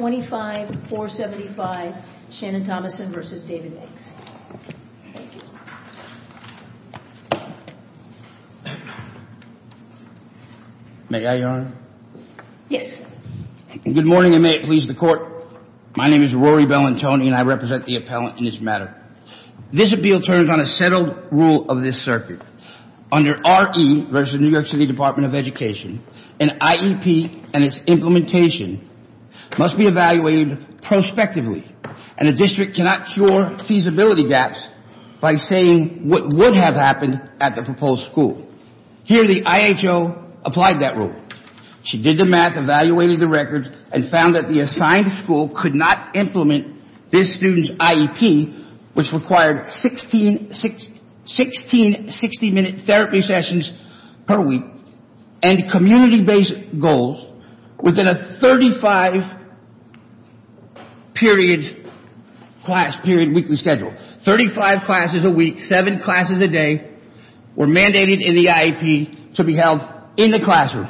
May I, Your Honor? Yes. Good morning and may it please the Court. My name is Rory Bellantoni and I represent the appellant in this matter. This appeal turns on a settled rule of this circuit. Under R.E. v. New York City Department of Education, an IEP and its implementation must be evaluated prospectively and a district cannot cure feasibility gaps by saying what would have happened at the proposed school. Here the IHO applied that rule. She did the math, evaluated the records, and found that the assigned school could not implement this student's IEP, which required 16 60-minute therapy sessions per week and community-based goals within a 35 class period weekly schedule. Thirty-five classes a week, seven classes a day were mandated in the IEP to be held in the classroom.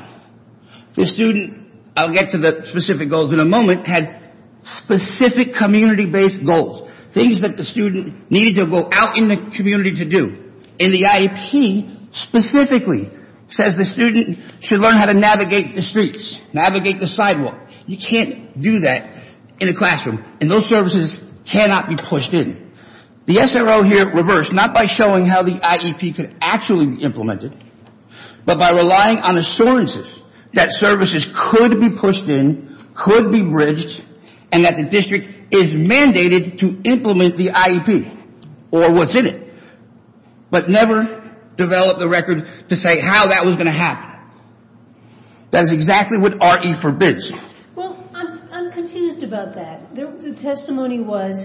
The student, I'll get to the specific goals in a moment, had specific community-based goals, things that the student needed to go out in the community to do. And the IEP specifically says the student should learn how to navigate the streets, navigate the sidewalk. You can't do that in a classroom and those services cannot be pushed in. The SRO here reversed, not by showing how the IEP could actually be implemented, but by relying on assurances that services could be pushed in, could be bridged, and that the district is mandated to implement the IEP or what's in it, but never developed the record to say how that was going to happen. That's exactly what RE forbids. Well, I'm confused about that. The testimony was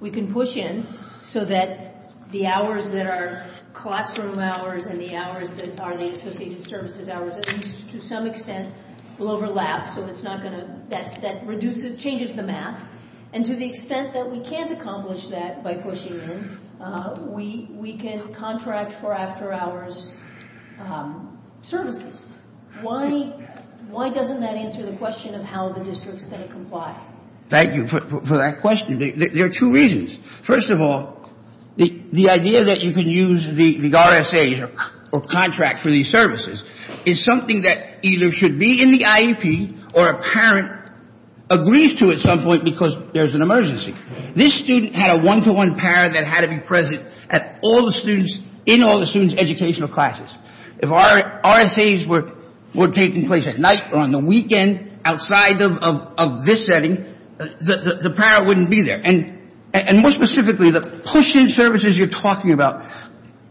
we can push in so that the hours that are classroom hours and the hours that are the associated services hours, to some extent, will overlap so that's not going to, that reduces, changes the math. And to the extent that we can't accomplish that by pushing in, we can contract for after hours services. Why doesn't that answer the question of how the districts can comply? Thank you for that question. There are two reasons. First of all, the idea that you can use the RSA or contract for these services is something that either should be in the This student had a one-to-one parent that had to be present at all the students, in all the students' educational classes. If RSAs were taking place at night or on the weekend outside of this setting, the parent wouldn't be there. And more specifically, the push-in services you're talking about,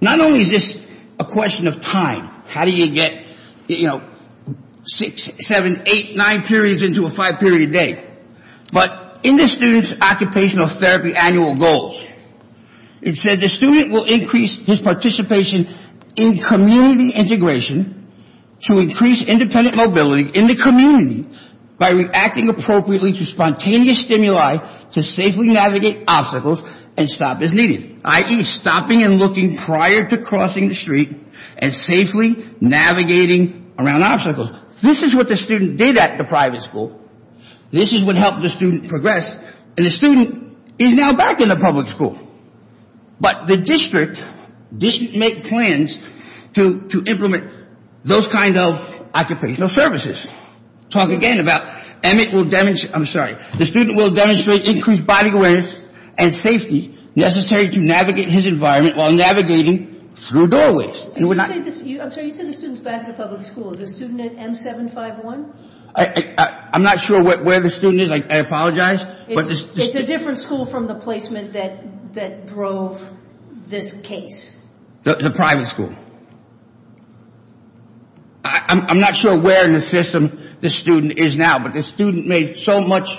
not only is this a question of time, how do you get, you know, six, seven, eight, nine periods into a five-period day, but in this student's occupational therapy annual goals, it said the student will increase his participation in community integration to increase independent mobility in the community by reacting appropriately to spontaneous stimuli to safely navigate obstacles and stop as needed, i.e., stopping and looking prior to crossing the street and safely navigating around obstacles. This is what the student did at the private school. This is what helped the student progress. And the student is now back in the public school. But the district didn't make plans to implement those kinds of occupational services. Talk again about, I'm sorry, the student will demonstrate increased body awareness and safety necessary to navigate his environment while navigating through doorways. I'm sorry, you said the student is back in the public school. Is the student at M751? I'm not sure where the student is. I apologize. It's a different school from the placement that drove this case. The private school. I'm not sure where in the system the student is now, but the student made so much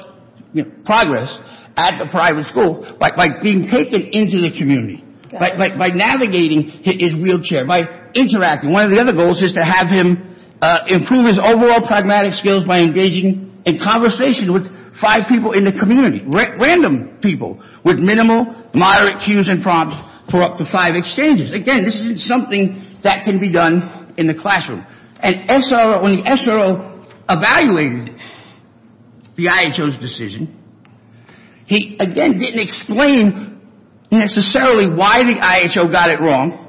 progress at the private school by being taken into the community, by navigating his wheelchair, by interacting. One of the other goals is to have him improve his overall pragmatic skills by engaging in conversation with five people in the community, random people with minimal, moderate cues and prompts for up to five exchanges. Again, this is something that can be done in the classroom. And when the SRO evaluated the IHO's decision, he again didn't explain necessarily why the IHO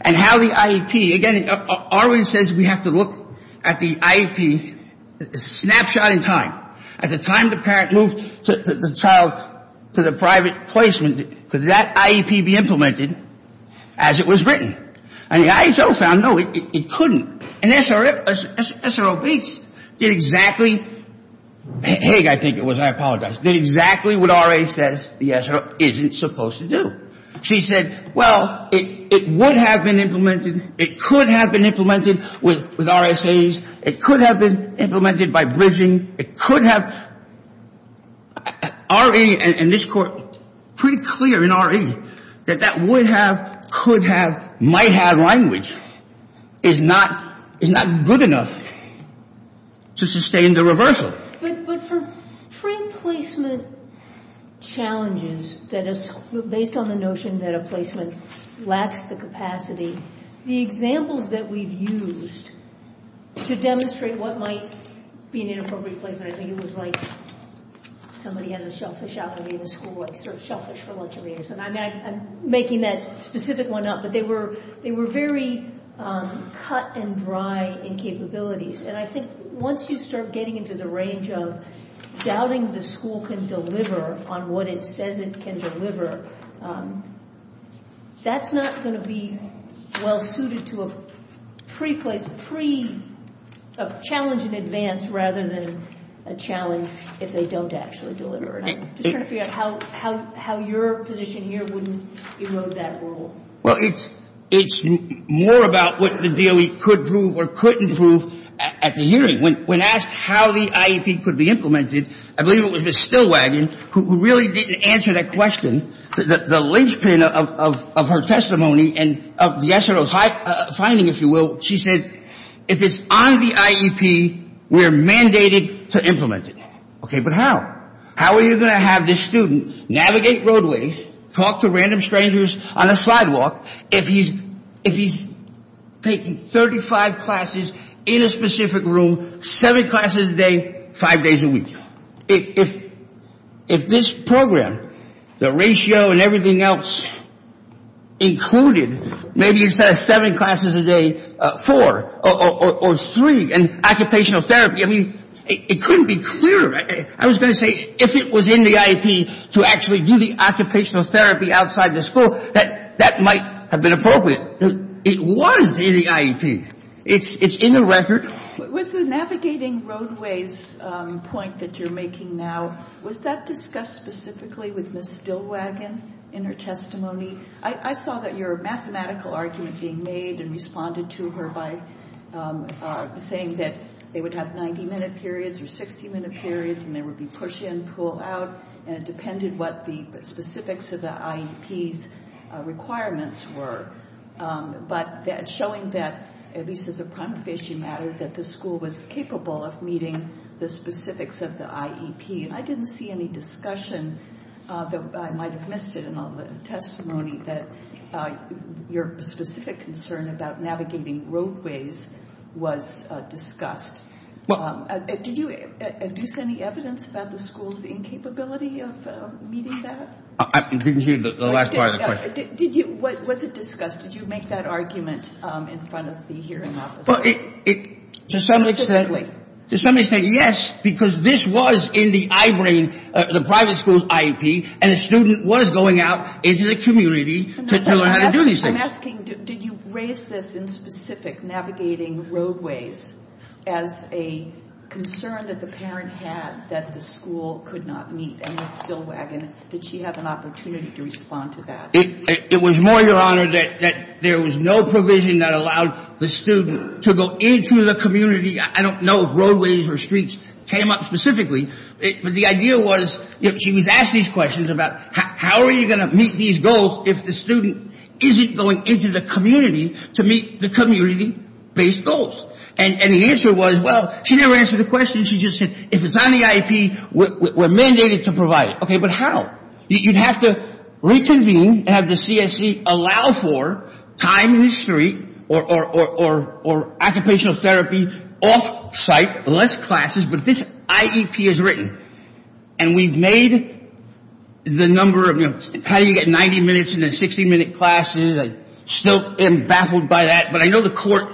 and how the IEP, again, R.A. says we have to look at the IEP snapshot in time. At the time the parent moved the child to the private placement, could that IEP be implemented as it was written? And the IHO found no, it couldn't. And SRO beats did exactly, I think it was, I apologize, did exactly what R.A. says the SRO isn't supposed to do. She said, well, it would have been implemented, it could have been implemented with RSAs, it could have been implemented by bridging, it could have, R.A. and this court pretty clear in R.A. that that would have, could have, might have language is not good enough to sustain the reversal. But for free placement challenges that is based on the notion that a placement lacks the capacity, the examples that we've used to demonstrate what might be an inappropriate placement, I think it was like somebody has a shellfish out in the school, shellfish for lunch every day or something. I'm making that specific one up, but they were, they were very cut and dry in capabilities. And I think once you start getting into the range of doubting the school can deliver on what it says it can deliver, that's not going to be well suited to a pre-place, pre-challenge in advance rather than a challenge if they don't actually deliver it. I'm just trying to figure out how your position here wouldn't erode that rule. Well, it's more about what the DOE could prove or couldn't prove at the hearing. When asked how the IEP could be implemented, I believe it was Ms. Stillwagon who really didn't answer that question. The linchpin of her testimony and of the SRO's finding, if you will, she said, if it's on the IEP, we're mandated to implement it. Okay, but how? How are you going to have this student navigate roadways, talk to random strangers on a sidewalk if he's taking 35 classes in a specific room, seven classes a day, five days a week? If this program, the ratio and everything else included, maybe instead of seven classes a day, four or three classes a week and occupational therapy, I mean, it couldn't be clearer. I was going to say, if it was in the IEP to actually do the occupational therapy outside the school, that might have been appropriate. It was in the IEP. It's in the record. With the navigating roadways point that you're making now, was that discussed specifically with Ms. Stillwagon in her testimony? I saw that your mathematical argument being made and responded to her by saying that they would have 90-minute periods or 60-minute periods and there would be push-in, pull-out, and it depended what the specifics of the IEP's requirements were, but that showing that, at least as a prima facie matter, that the school was capable of meeting the specifics of the IEP. I didn't see any discussion. I might have missed it in all the testimony that your specific concern about navigating roadways was discussed. Did you induce any evidence about the school's incapability of meeting that? I didn't hear the last part of the question. Was it discussed? Did you make that argument in front of the hearing office? Specifically. Somebody said yes, because this was in the I-brain, the private school's IEP, and the student was going out into the community to learn how to do these things. I'm asking, did you raise this in specific, navigating roadways, as a concern that the parent had that the school could not meet? And Ms. Stillwagon, did she have an opportunity to respond to that? It was more, your Honor, that there was no provision that allowed the student to go into the community. I don't know if roadways or streets came up specifically. But the idea was, she was asked these questions about how are you going to meet these goals if the student isn't going into the community to meet the community-based goals. And the answer was, well, she never answered the question. She just said, if it's on the IEP, we're mandated to provide it. Okay, but how? You'd have to reconvene, have the CSE allow for time in the street or occupational therapy off-site, less classes. But this IEP is written. And we've made the number of, you know, how do you get 90 minutes and then 60-minute classes? I still am baffled by that. But I know the court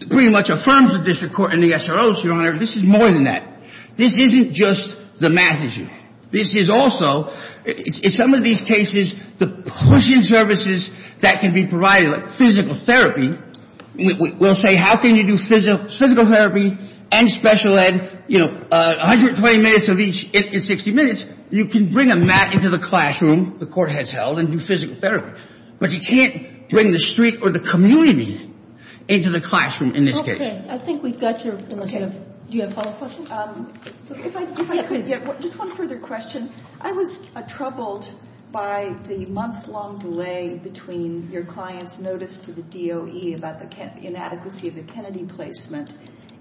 pretty much affirms this, the court and the SROs, your Honor, this is more than that. This isn't just the math issue. This is also, in some of these cases, the push-in services that can be provided, like physical therapy. We'll say, how can you do physical therapy and special ed, you know, 120 minutes of each in 60 minutes? You can bring a mat into the classroom, the court has held, and do physical therapy. But you can't bring the street or the community into the classroom in this case. Okay, I think we've got your, unless you have, do you have a follow-up question? If I could, just one further question. I was troubled by the month-long delay between your client's notice to the DOE about the inadequacy of the Kennedy placement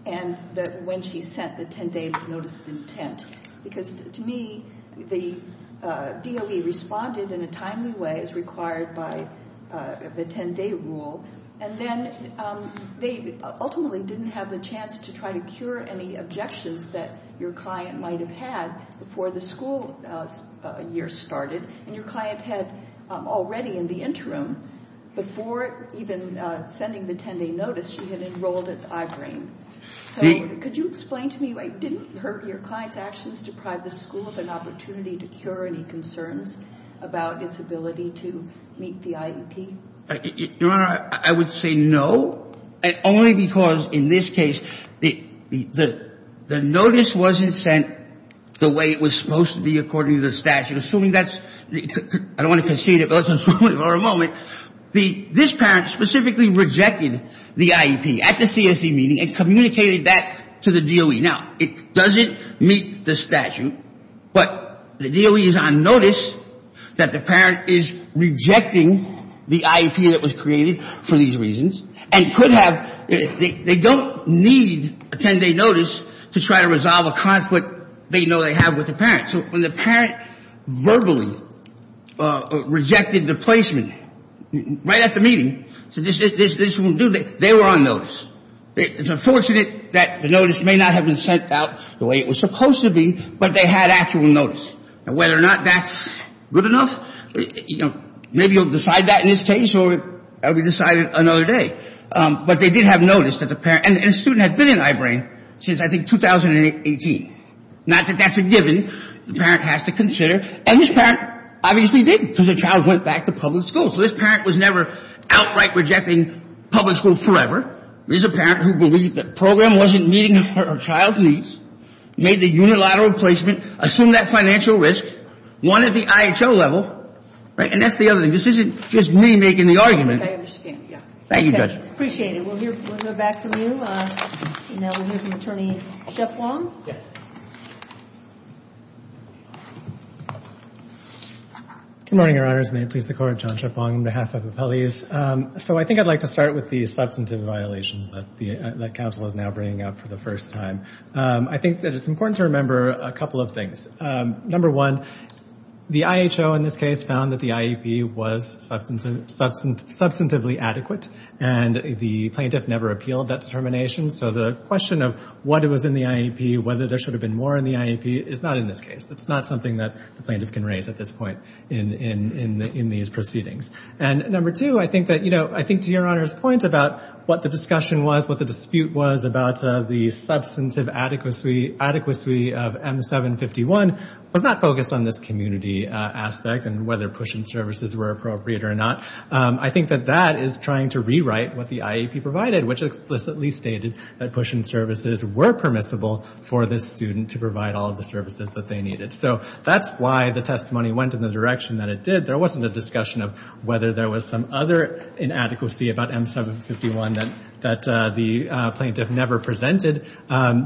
and when she sent the 10-day notice of intent. Because to me, the DOE responded in a timely way as required by the 10-day rule. And then they ultimately didn't have the chance to try to cure any objections that your client might have had before the school year started. And your client had already in the interim, before even sending the 10-day notice, she had enrolled at I-Brain. So could you explain to me why it didn't hurt your client's actions to deprive the school of an opportunity to cure any concerns about its ability to meet the IEP? Your Honor, I would say no. And only because in this case, the notice wasn't sent the way it was supposed to be according to the statute. Assuming that's, I don't want to concede it, but let's assume it for a moment. This parent specifically rejected the IEP at the CSE meeting and doesn't meet the statute, but the DOE is on notice that the parent is rejecting the IEP that was created for these reasons and could have, they don't need a 10-day notice to try to resolve a conflict they know they have with the parent. So when the parent verbally rejected the placement right at the meeting, said this won't do, they were on notice. It's unfortunate that the IEP wasn't sent the way it was supposed to be, but they had actual notice. And whether or not that's good enough, you know, maybe you'll decide that in this case or it will be decided another day. But they did have notice that the parent, and the student had been in I-Brain since I think 2018. Not that that's a given. The parent has to consider. And this parent obviously did because the child went back to public school. So this parent was never outright rejecting public school forever. This is a parent who believed that the program wasn't meeting her child's needs, made the unilateral placement, assumed that financial risk, one at the IHO level, right? And that's the other thing. This isn't just me making the argument. I understand, yeah. Thank you, Judge. Appreciate it. We'll hear, we'll hear back from you. Now we'll hear from Attorney Schiff-Wong. Yes. Good morning, Your Honors, and may it please the Court, John Schiff-Wong on behalf of the that counsel is now bringing up for the first time. I think that it's important to remember a couple of things. Number one, the IHO in this case found that the IEP was substantively adequate, and the plaintiff never appealed that determination. So the question of what was in the IEP, whether there should have been more in the IEP, is not in this case. It's not something that the plaintiff can raise at this point in these hearings. And I think that Your Honor's point about what the discussion was, what the dispute was about the substantive adequacy of M751 was not focused on this community aspect and whether push-in services were appropriate or not. I think that that is trying to rewrite what the IEP provided, which explicitly stated that push-in services were permissible for this student to provide all of the services that they needed. So that's why the testimony went in the direction that it did. There wasn't a discussion of whether there was some other inadequacy about M751 that the plaintiff never presented.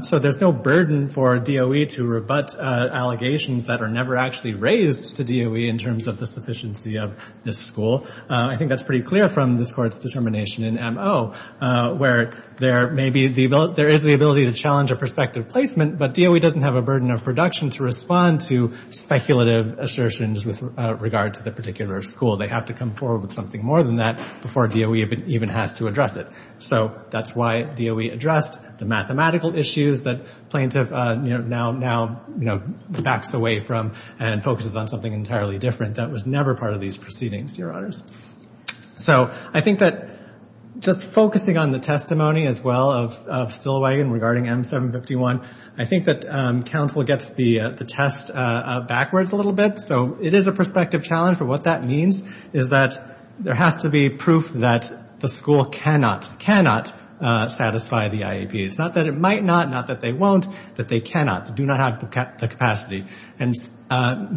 So there's no burden for DOE to rebut allegations that are never actually raised to DOE in terms of the sufficiency of this school. I think that's pretty clear from this Court's determination in MO, where there is the ability to challenge a prospective placement, but DOE doesn't have a burden of production to respond to speculative assertions with regard to the particular school. They have to come forward with something more than that before DOE even has to address it. So that's why DOE addressed the mathematical issues that plaintiff now backs away from and focuses on something entirely different that was never part of these proceedings, Your Honors. So I think that just focusing on the testimony as well of Stillwagon regarding M751, I think that counsel gets the test backwards a little bit. So it is a prospective challenge, but what that means is that there has to be proof that the school cannot, cannot satisfy the IEP. It's not that it might not, not that they won't, that they cannot, do not have the capacity. And Ms.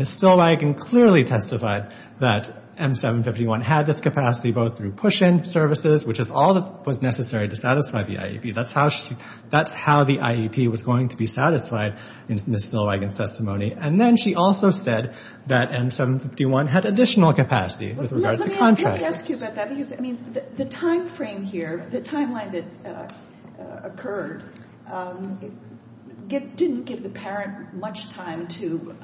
Stillwagon clearly testified that M751 had this capacity both through push-in services, which is all that was necessary to satisfy the IEP. That's how the IEP was going to be satisfied in Ms. Stillwagon's testimony. And then she also said that M751 had additional capacity with regard to contractors. I did want to ask you about that because the timeframe here, the timeline that occurred, didn't give the parent much time to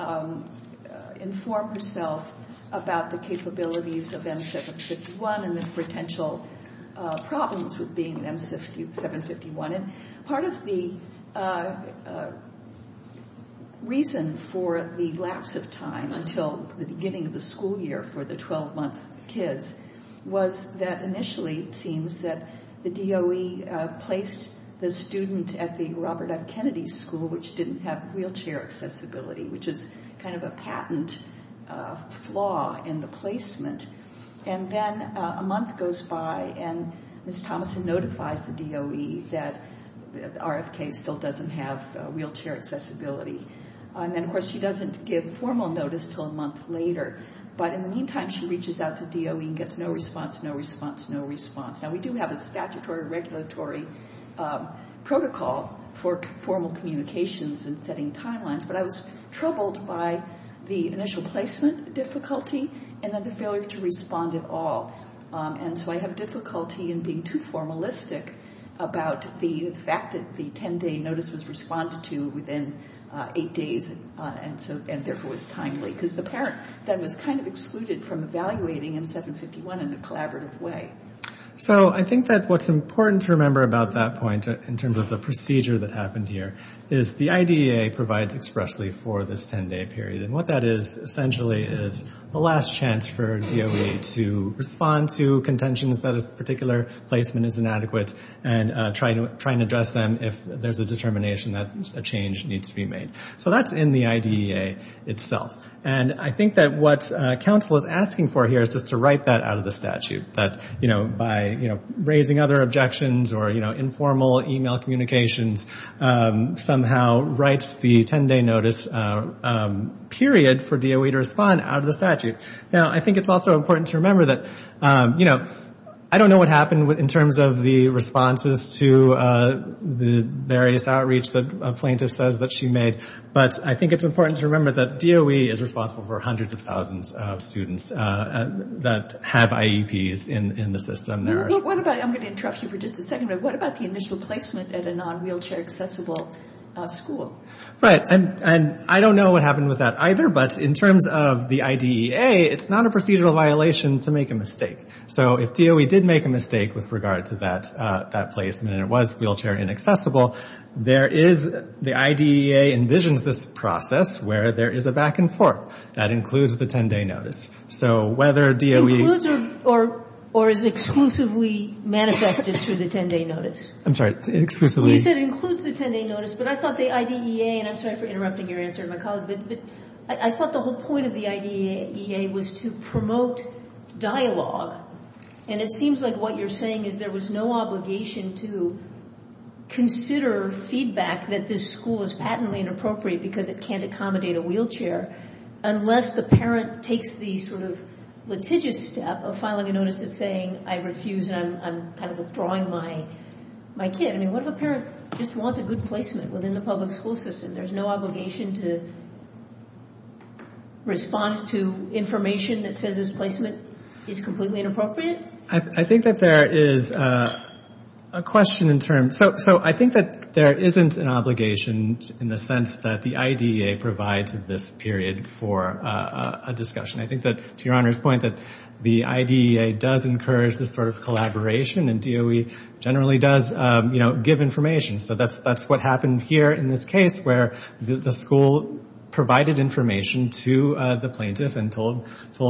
inform herself about the capabilities of M751 and the potential problems with being M751. And part of the reason for the 12-month kids was that initially it seems that the DOE placed the student at the Robert F. Kennedy School, which didn't have wheelchair accessibility, which is kind of a patent flaw in the placement. And then a month goes by and Ms. Thomason notifies the DOE that RFK still doesn't have wheelchair accessibility. And then of course she doesn't give formal notice until a month later. But in the meantime, she reaches out to DOE and gets no response, no response, no response. Now, we do have a statutory regulatory protocol for formal communications and setting timelines, but I was troubled by the initial placement difficulty and then the failure to respond at all. And so I have difficulty in being too formalistic about the fact that the 10-day notice was responded to within eight days, and therefore was timely, because it was a 10-day notice. The parent then was kind of excluded from evaluating M751 in a collaborative way. So I think that what's important to remember about that point in terms of the procedure that happened here is the IDEA provides expressly for this 10-day period. And what that is essentially is the last chance for DOE to respond to contentions that a particular placement is inadequate and try and address them if there's a determination that a change needs to be made. So that's in the statute. And I think that what counsel is asking for here is just to write that out of the statute, that by raising other objections or informal e-mail communications, somehow write the 10-day notice period for DOE to respond out of the statute. Now, I think it's also important to remember that, you know, I don't know what happened in terms of the responses to the various outreach that a plaintiff says that she made, but I think it's important to remember that DOE is responsible for hundreds of thousands of students that have IEPs in the system. What about the initial placement at a non-wheelchair accessible school? Right. And I don't know what happened with that either, but in terms of the IDEA, it's not a procedural violation to make a mistake. So if DOE did make a mistake with regard to that placement and it was wheelchair inaccessible, the IDEA envisions this process where there is a back-and-forth. That includes the 10-day notice. So whether DOE... Includes or is exclusively manifested through the 10-day notice? I'm sorry. Exclusively... You said includes the 10-day notice, but I thought the IDEA, and I'm sorry for interrupting your answer, but I thought the whole point of the IDEA was to promote dialogue. And it seems like what you're saying is there was no obligation to consider feedback that this school is patently inappropriate because it can't accommodate a wheelchair unless the parent takes the sort of litigious step of filing a notice that's saying I refuse and I'm kind of withdrawing my kid. I mean, what if a parent just wants a good placement within the public school system? There's no obligation to respond to information that says this placement is completely inappropriate? I think that there is a question in terms... So I think that there isn't an obligation in the sense that the IDEA provides this period for a discussion. I think that, to your Honor's point, that the IDEA does encourage this sort of collaboration and DOE generally does give information. So that's what happened here in this case where the school provided information to the plaintiff and told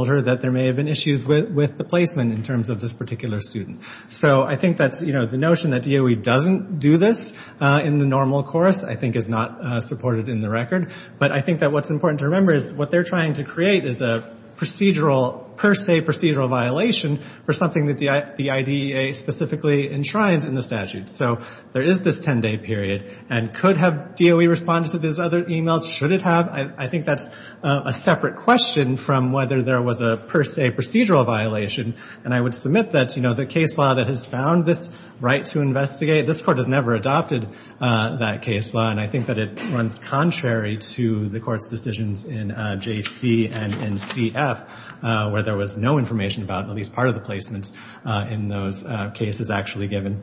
her that there may have been issues with the placement in terms of this particular student. So I think that the notion that DOE doesn't do this in the normal course, I think, is not supported in the record. But I think that what's important to remember is what they're trying to create is a procedural, per se, procedural violation for something that the IDEA specifically enshrines in the statute. So there is this 10-day period. And could have DOE responded to these other emails? Should it have? I think that's a separate question from whether there was a, per se, procedural violation. And I would submit that the case law that has found this right to investigate, this Court has never adopted that case law. And I think that it runs contrary to the Court's decisions in J.C. and in C.F. where there was no information about at least part of the placement in those cases actually given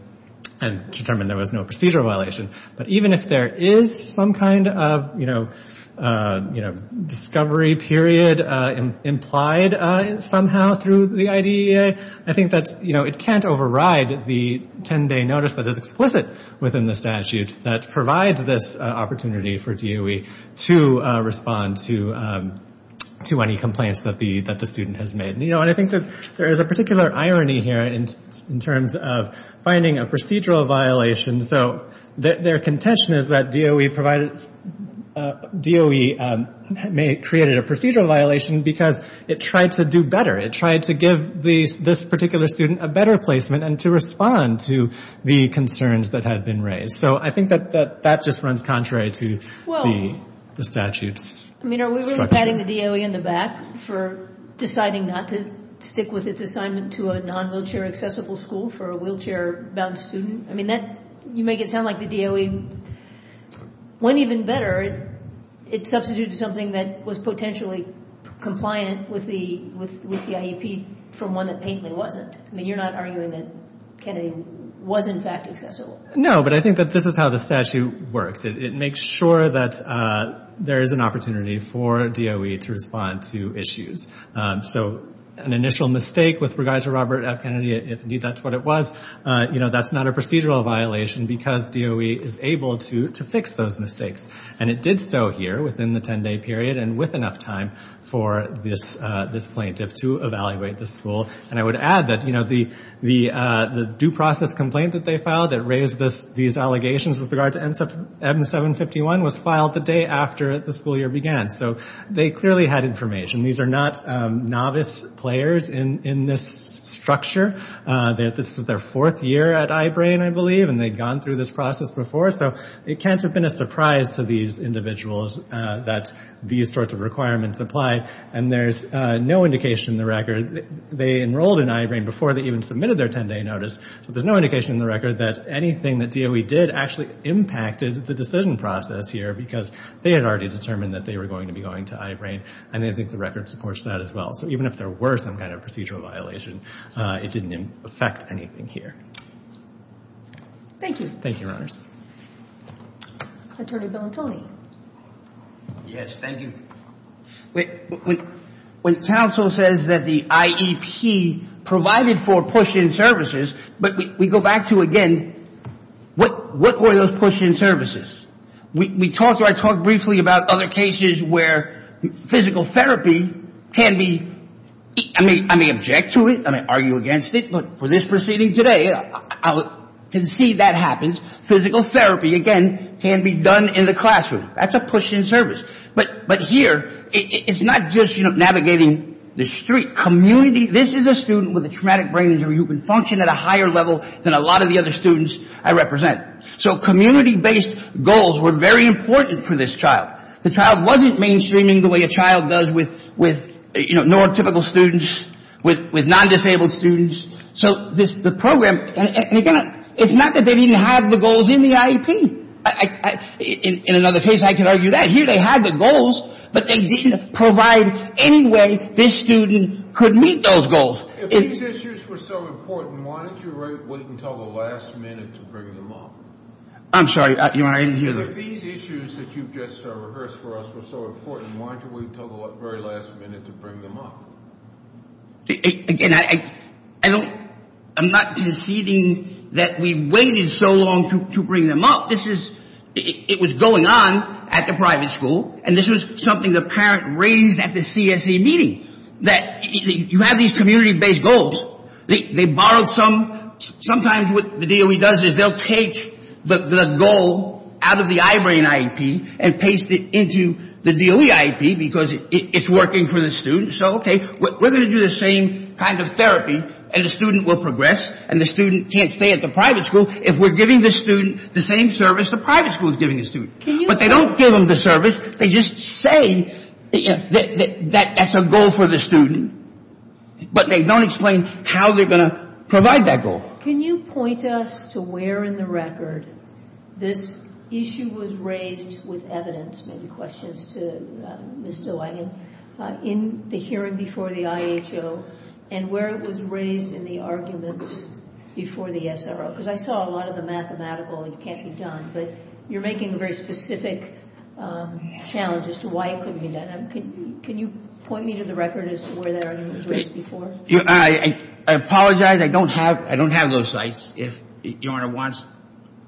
and determined there was no procedural violation. But even if there is some kind of discovery period implied somehow through the IDEA, I think that it can't override the 10-day notice that is explicit within the statute that provides this opportunity for DOE to respond to any complaints that the student has made. And I think that there is a particular irony here in terms of finding a procedural violation. So their contention is that DOE provided, DOE created a procedural violation because it tried to do better. It tried to give this particular student a better placement and to respond to the concerns that had been raised. So I think that that just runs contrary to the statute's structure. I mean, are we really patting the DOE in the back for deciding not to stick with its assignment to a non-wheelchair accessible school for a wheelchair-bound student? I mean, you make it sound like the DOE went even better. It substituted something that was potentially compliant with the IEP from one that mainly wasn't. I mean, you're not arguing that Kennedy was in fact accessible. No, but I think that this is how the statute works. It makes sure that there is an opportunity for DOE to respond to issues. So an initial mistake with regard to Robert F. Kennedy, if indeed that's what it was, that's not a procedural violation because DOE is able to fix those mistakes. And it did so here within the 10-day period and with enough time for this plaintiff to evaluate the school. And I would add that the due process complaint that they filed that raised these allegations with regard to M751 was not a procedural violation. So they clearly had information. These are not novice players in this structure. This was their fourth year at I-BRAIN, I believe, and they'd gone through this process before. So it can't have been a surprise to these individuals that these sorts of requirements apply. And there's no indication in the record, they enrolled in I-BRAIN before they even submitted their 10-day notice. So there's no indication in the record that anything that DOE did actually impacted the decision process here because they had already determined that they were going to be going to I-BRAIN. And I think the record supports that as well. So even if there were some kind of procedural violation, it didn't affect anything here. Thank you. Yes, thank you. When counsel says that the IEP provided for push-in services, but we go back to again, what were those push-in services? We talked, I talked briefly about other cases where physical therapy can be, I may object to it, I may argue against it, but for this proceeding today, I can see that happens. Physical therapy, again, can be done in the classroom. That's a push-in service. But here, it's not just navigating the street. Community, this is a student with a traumatic brain injury who can function at a higher level than a lot of the other students I represent. So community-based goals were very important for this child. The child wasn't mainstreaming the way a child does with, you know, non-typical students, with non-disabled students. So the program, and again, it's not that they didn't have the goals in the IEP. In another case, I can argue that. Here, they had the goals, but they didn't provide any way this student could meet those goals. If these issues were so important, why didn't you wait until the last minute to bring them up? I'm sorry, you want me to hear that? If these issues that you just rehearsed for us were so important, why didn't you wait until the very last minute to bring them up? Again, I don't, I'm not conceding that we waited so long to bring them up. This is, it was going on at the private school, and this was something the parent raised at the CSE meeting, that you have these community-based goals. They borrowed some. Sometimes what the DOE does is they'll take the goal out of the iBrain IEP and paste it into the DOE IEP, because it's working for the student. So okay, we're going to do the same kind of therapy, and the student will progress, and the student can't stay at the private school. If we're giving the student the same service, the private school is giving the student. But they don't give them the service. They just say that that's a goal for the student. But they don't explain how they're going to provide that goal. I apologize. I don't have those sites. If Your Honor wants a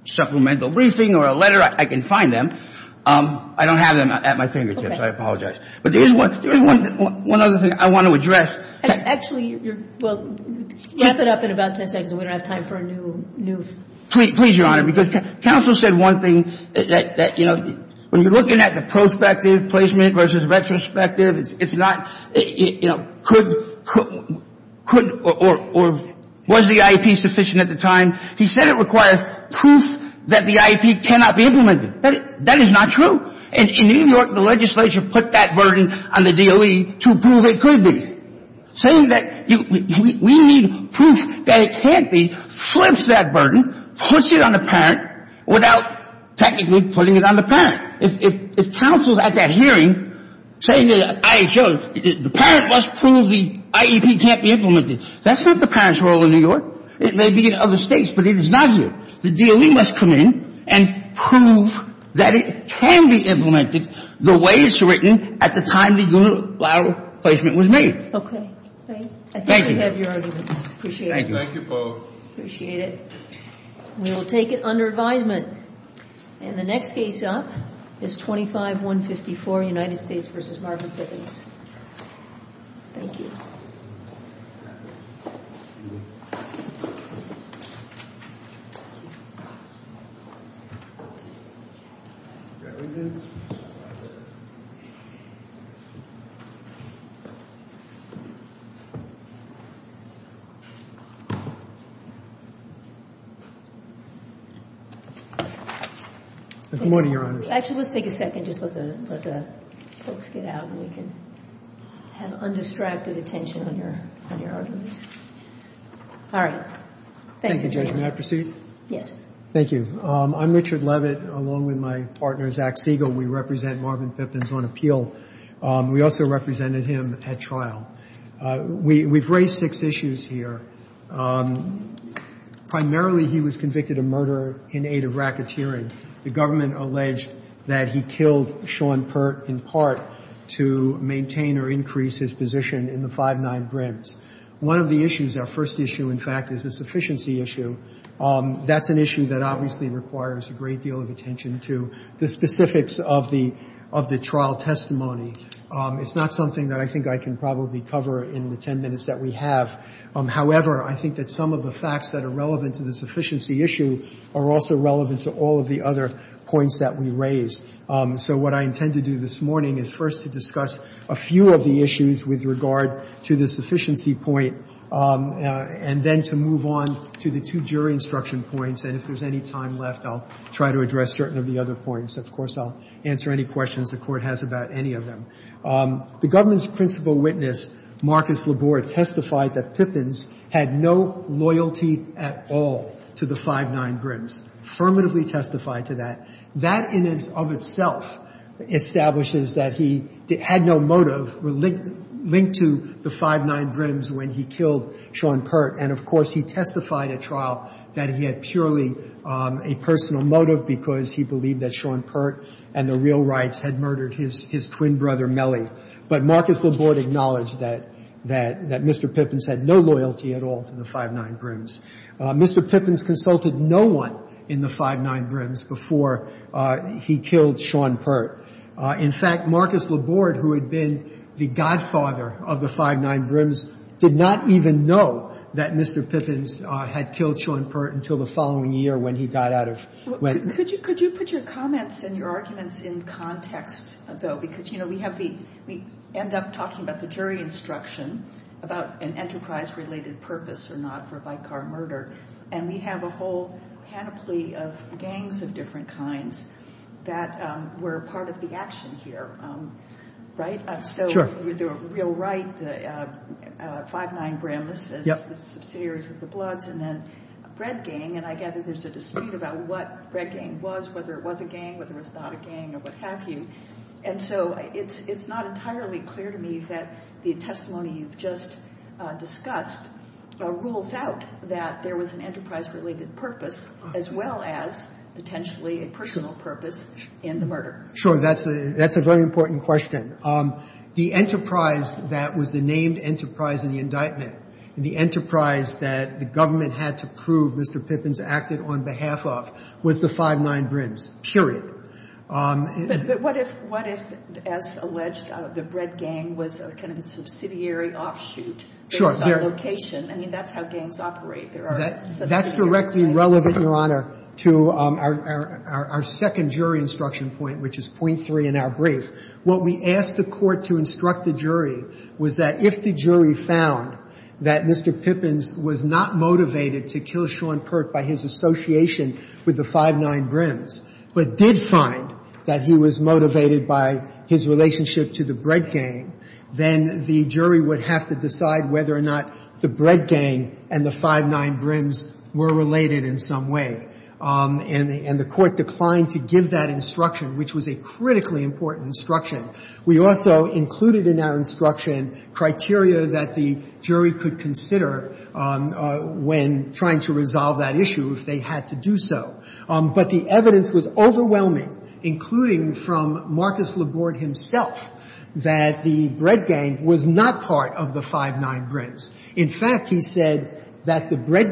supplemental briefing or a letter, I can find them. I don't have them at my fingertips. I apologize. But there's one other thing I want to address. Actually, we'll wrap it up in about 10 seconds. We don't have time for a new... Please, Your Honor, because counsel said one thing that, you know, when you're looking at the prospective placement versus retrospective, it's not, you know, could or was the IEP sufficient at the time? He said it requires proof that the IEP cannot be implemented. That is not true. And in New York, the legislature put that burden on the DOE to prove it could be. Saying that we need proof that it can't be flips that burden, puts it on the parent without technically putting it on the parent. If counsel's at that hearing saying that the parent must prove the IEP can't be implemented, that's not the parent's role in New York. It may be in other states, but it is not here. The DOE must come in and prove that it can be implemented the way it was written at the time the unilateral placement was made. Thank you. We will take it under advisement. And the next case up is 25-154, United States v. Marvin Pippins. Good morning, Your Honors. Actually, let's take a second. Just let the folks get out and we can have undistracted attention on your argument. All right. Thank you, Judge. May I proceed? Yes. Thank you. I'm Richard Levitt, along with my partner, Zach Siegel. We represent Marvin Pippins on appeal. We also represented him at trial. We've raised six issues here. Primarily, he was convicted of murder in aid of racketeering. The government alleged that he killed Sean in part to maintain or increase his position in the 5-9 grants. One of the issues, our first issue, in fact, is a sufficiency issue. That's an issue that obviously requires a great deal of attention to the specifics of the trial testimony. It's not something that I think I can probably cover in the ten minutes that we have. However, I think that some of the facts that are relevant to the sufficiency issue are also relevant to all of the other points that we have. And so what I intend to do this morning is first to discuss a few of the issues with regard to the sufficiency point, and then to move on to the two jury instruction points. And if there's any time left, I'll try to address certain of the other points. Of course, I'll answer any questions the Court has about any of them. The government's principal witness, Marcus Labore, testified that Pippins had no loyalty at all to the 5-9 grants, affirmatively testified to that. That in and of itself establishes that he had no motive linked to the 5-9 brims when he killed Sean Pert. And of course, he testified at trial that he had purely a personal motive because he believed that Sean Pert and the real rights had murdered his twin brother, Mellie. But Marcus Labore acknowledged that Mr. Pippins had no loyalty at all to the 5-9 brims. Mr. Pippins consulted no one in the 5-9 brims before he killed Sean Pert. In fact, Marcus Labore, who had been the godfather of the 5-9 brims, did not even know that Mr. Pippins had killed Sean Pert until the following year when he got out of — Could you put your comments and your arguments in context, though? Because, you know, we have the — we end up talking about a jury instruction about an enterprise-related purpose or not for a bike car murder, and we have a whole panoply of gangs of different kinds that were part of the action here, right? So the real right, the 5-9 brims, the subsidiaries of the Bloods, and then Bread Gang, and I gather there's a dispute about what Bread Gang was, whether it was a gang, whether it was not a gang, or what have you. And so it's not entirely clear to me that the testimony you've just discussed rules out that there was an enterprise-related purpose as well as potentially a personal purpose in the murder. Sure. That's a very important question. The enterprise that was the named enterprise in the indictment, the enterprise that the government had to prove Mr. Pippins acted on behalf of was the 5-9 brims, period. But what if, as alleged, the Bread Gang was kind of a subsidiary offshoot based on location? I mean, that's how gangs operate. There are subsidiary gangs. That's directly relevant, Your Honor, to our second jury instruction point, which is point three in our brief. What we asked the court to instruct the jury was that if the jury found that Mr. Pippins was not motivated to kill Sean Perk by his association with the 5-9 brims, but did find that he was motivated by his relationship to the Bread Gang, then the jury would have to decide whether or not the Bread Gang and the 5-9 brims were related in some way. And the court declined to give that instruction, which was a critically important instruction. We also included in our instruction criteria that the jury could consider when trying to resolve that issue if they had to do so. But the evidence was overwhelming, including from Marcus Laborde himself, that the Bread Gang was not part of the 5-9 brims. In fact, he said that the Bread Gang was not part of the 5-9 brims.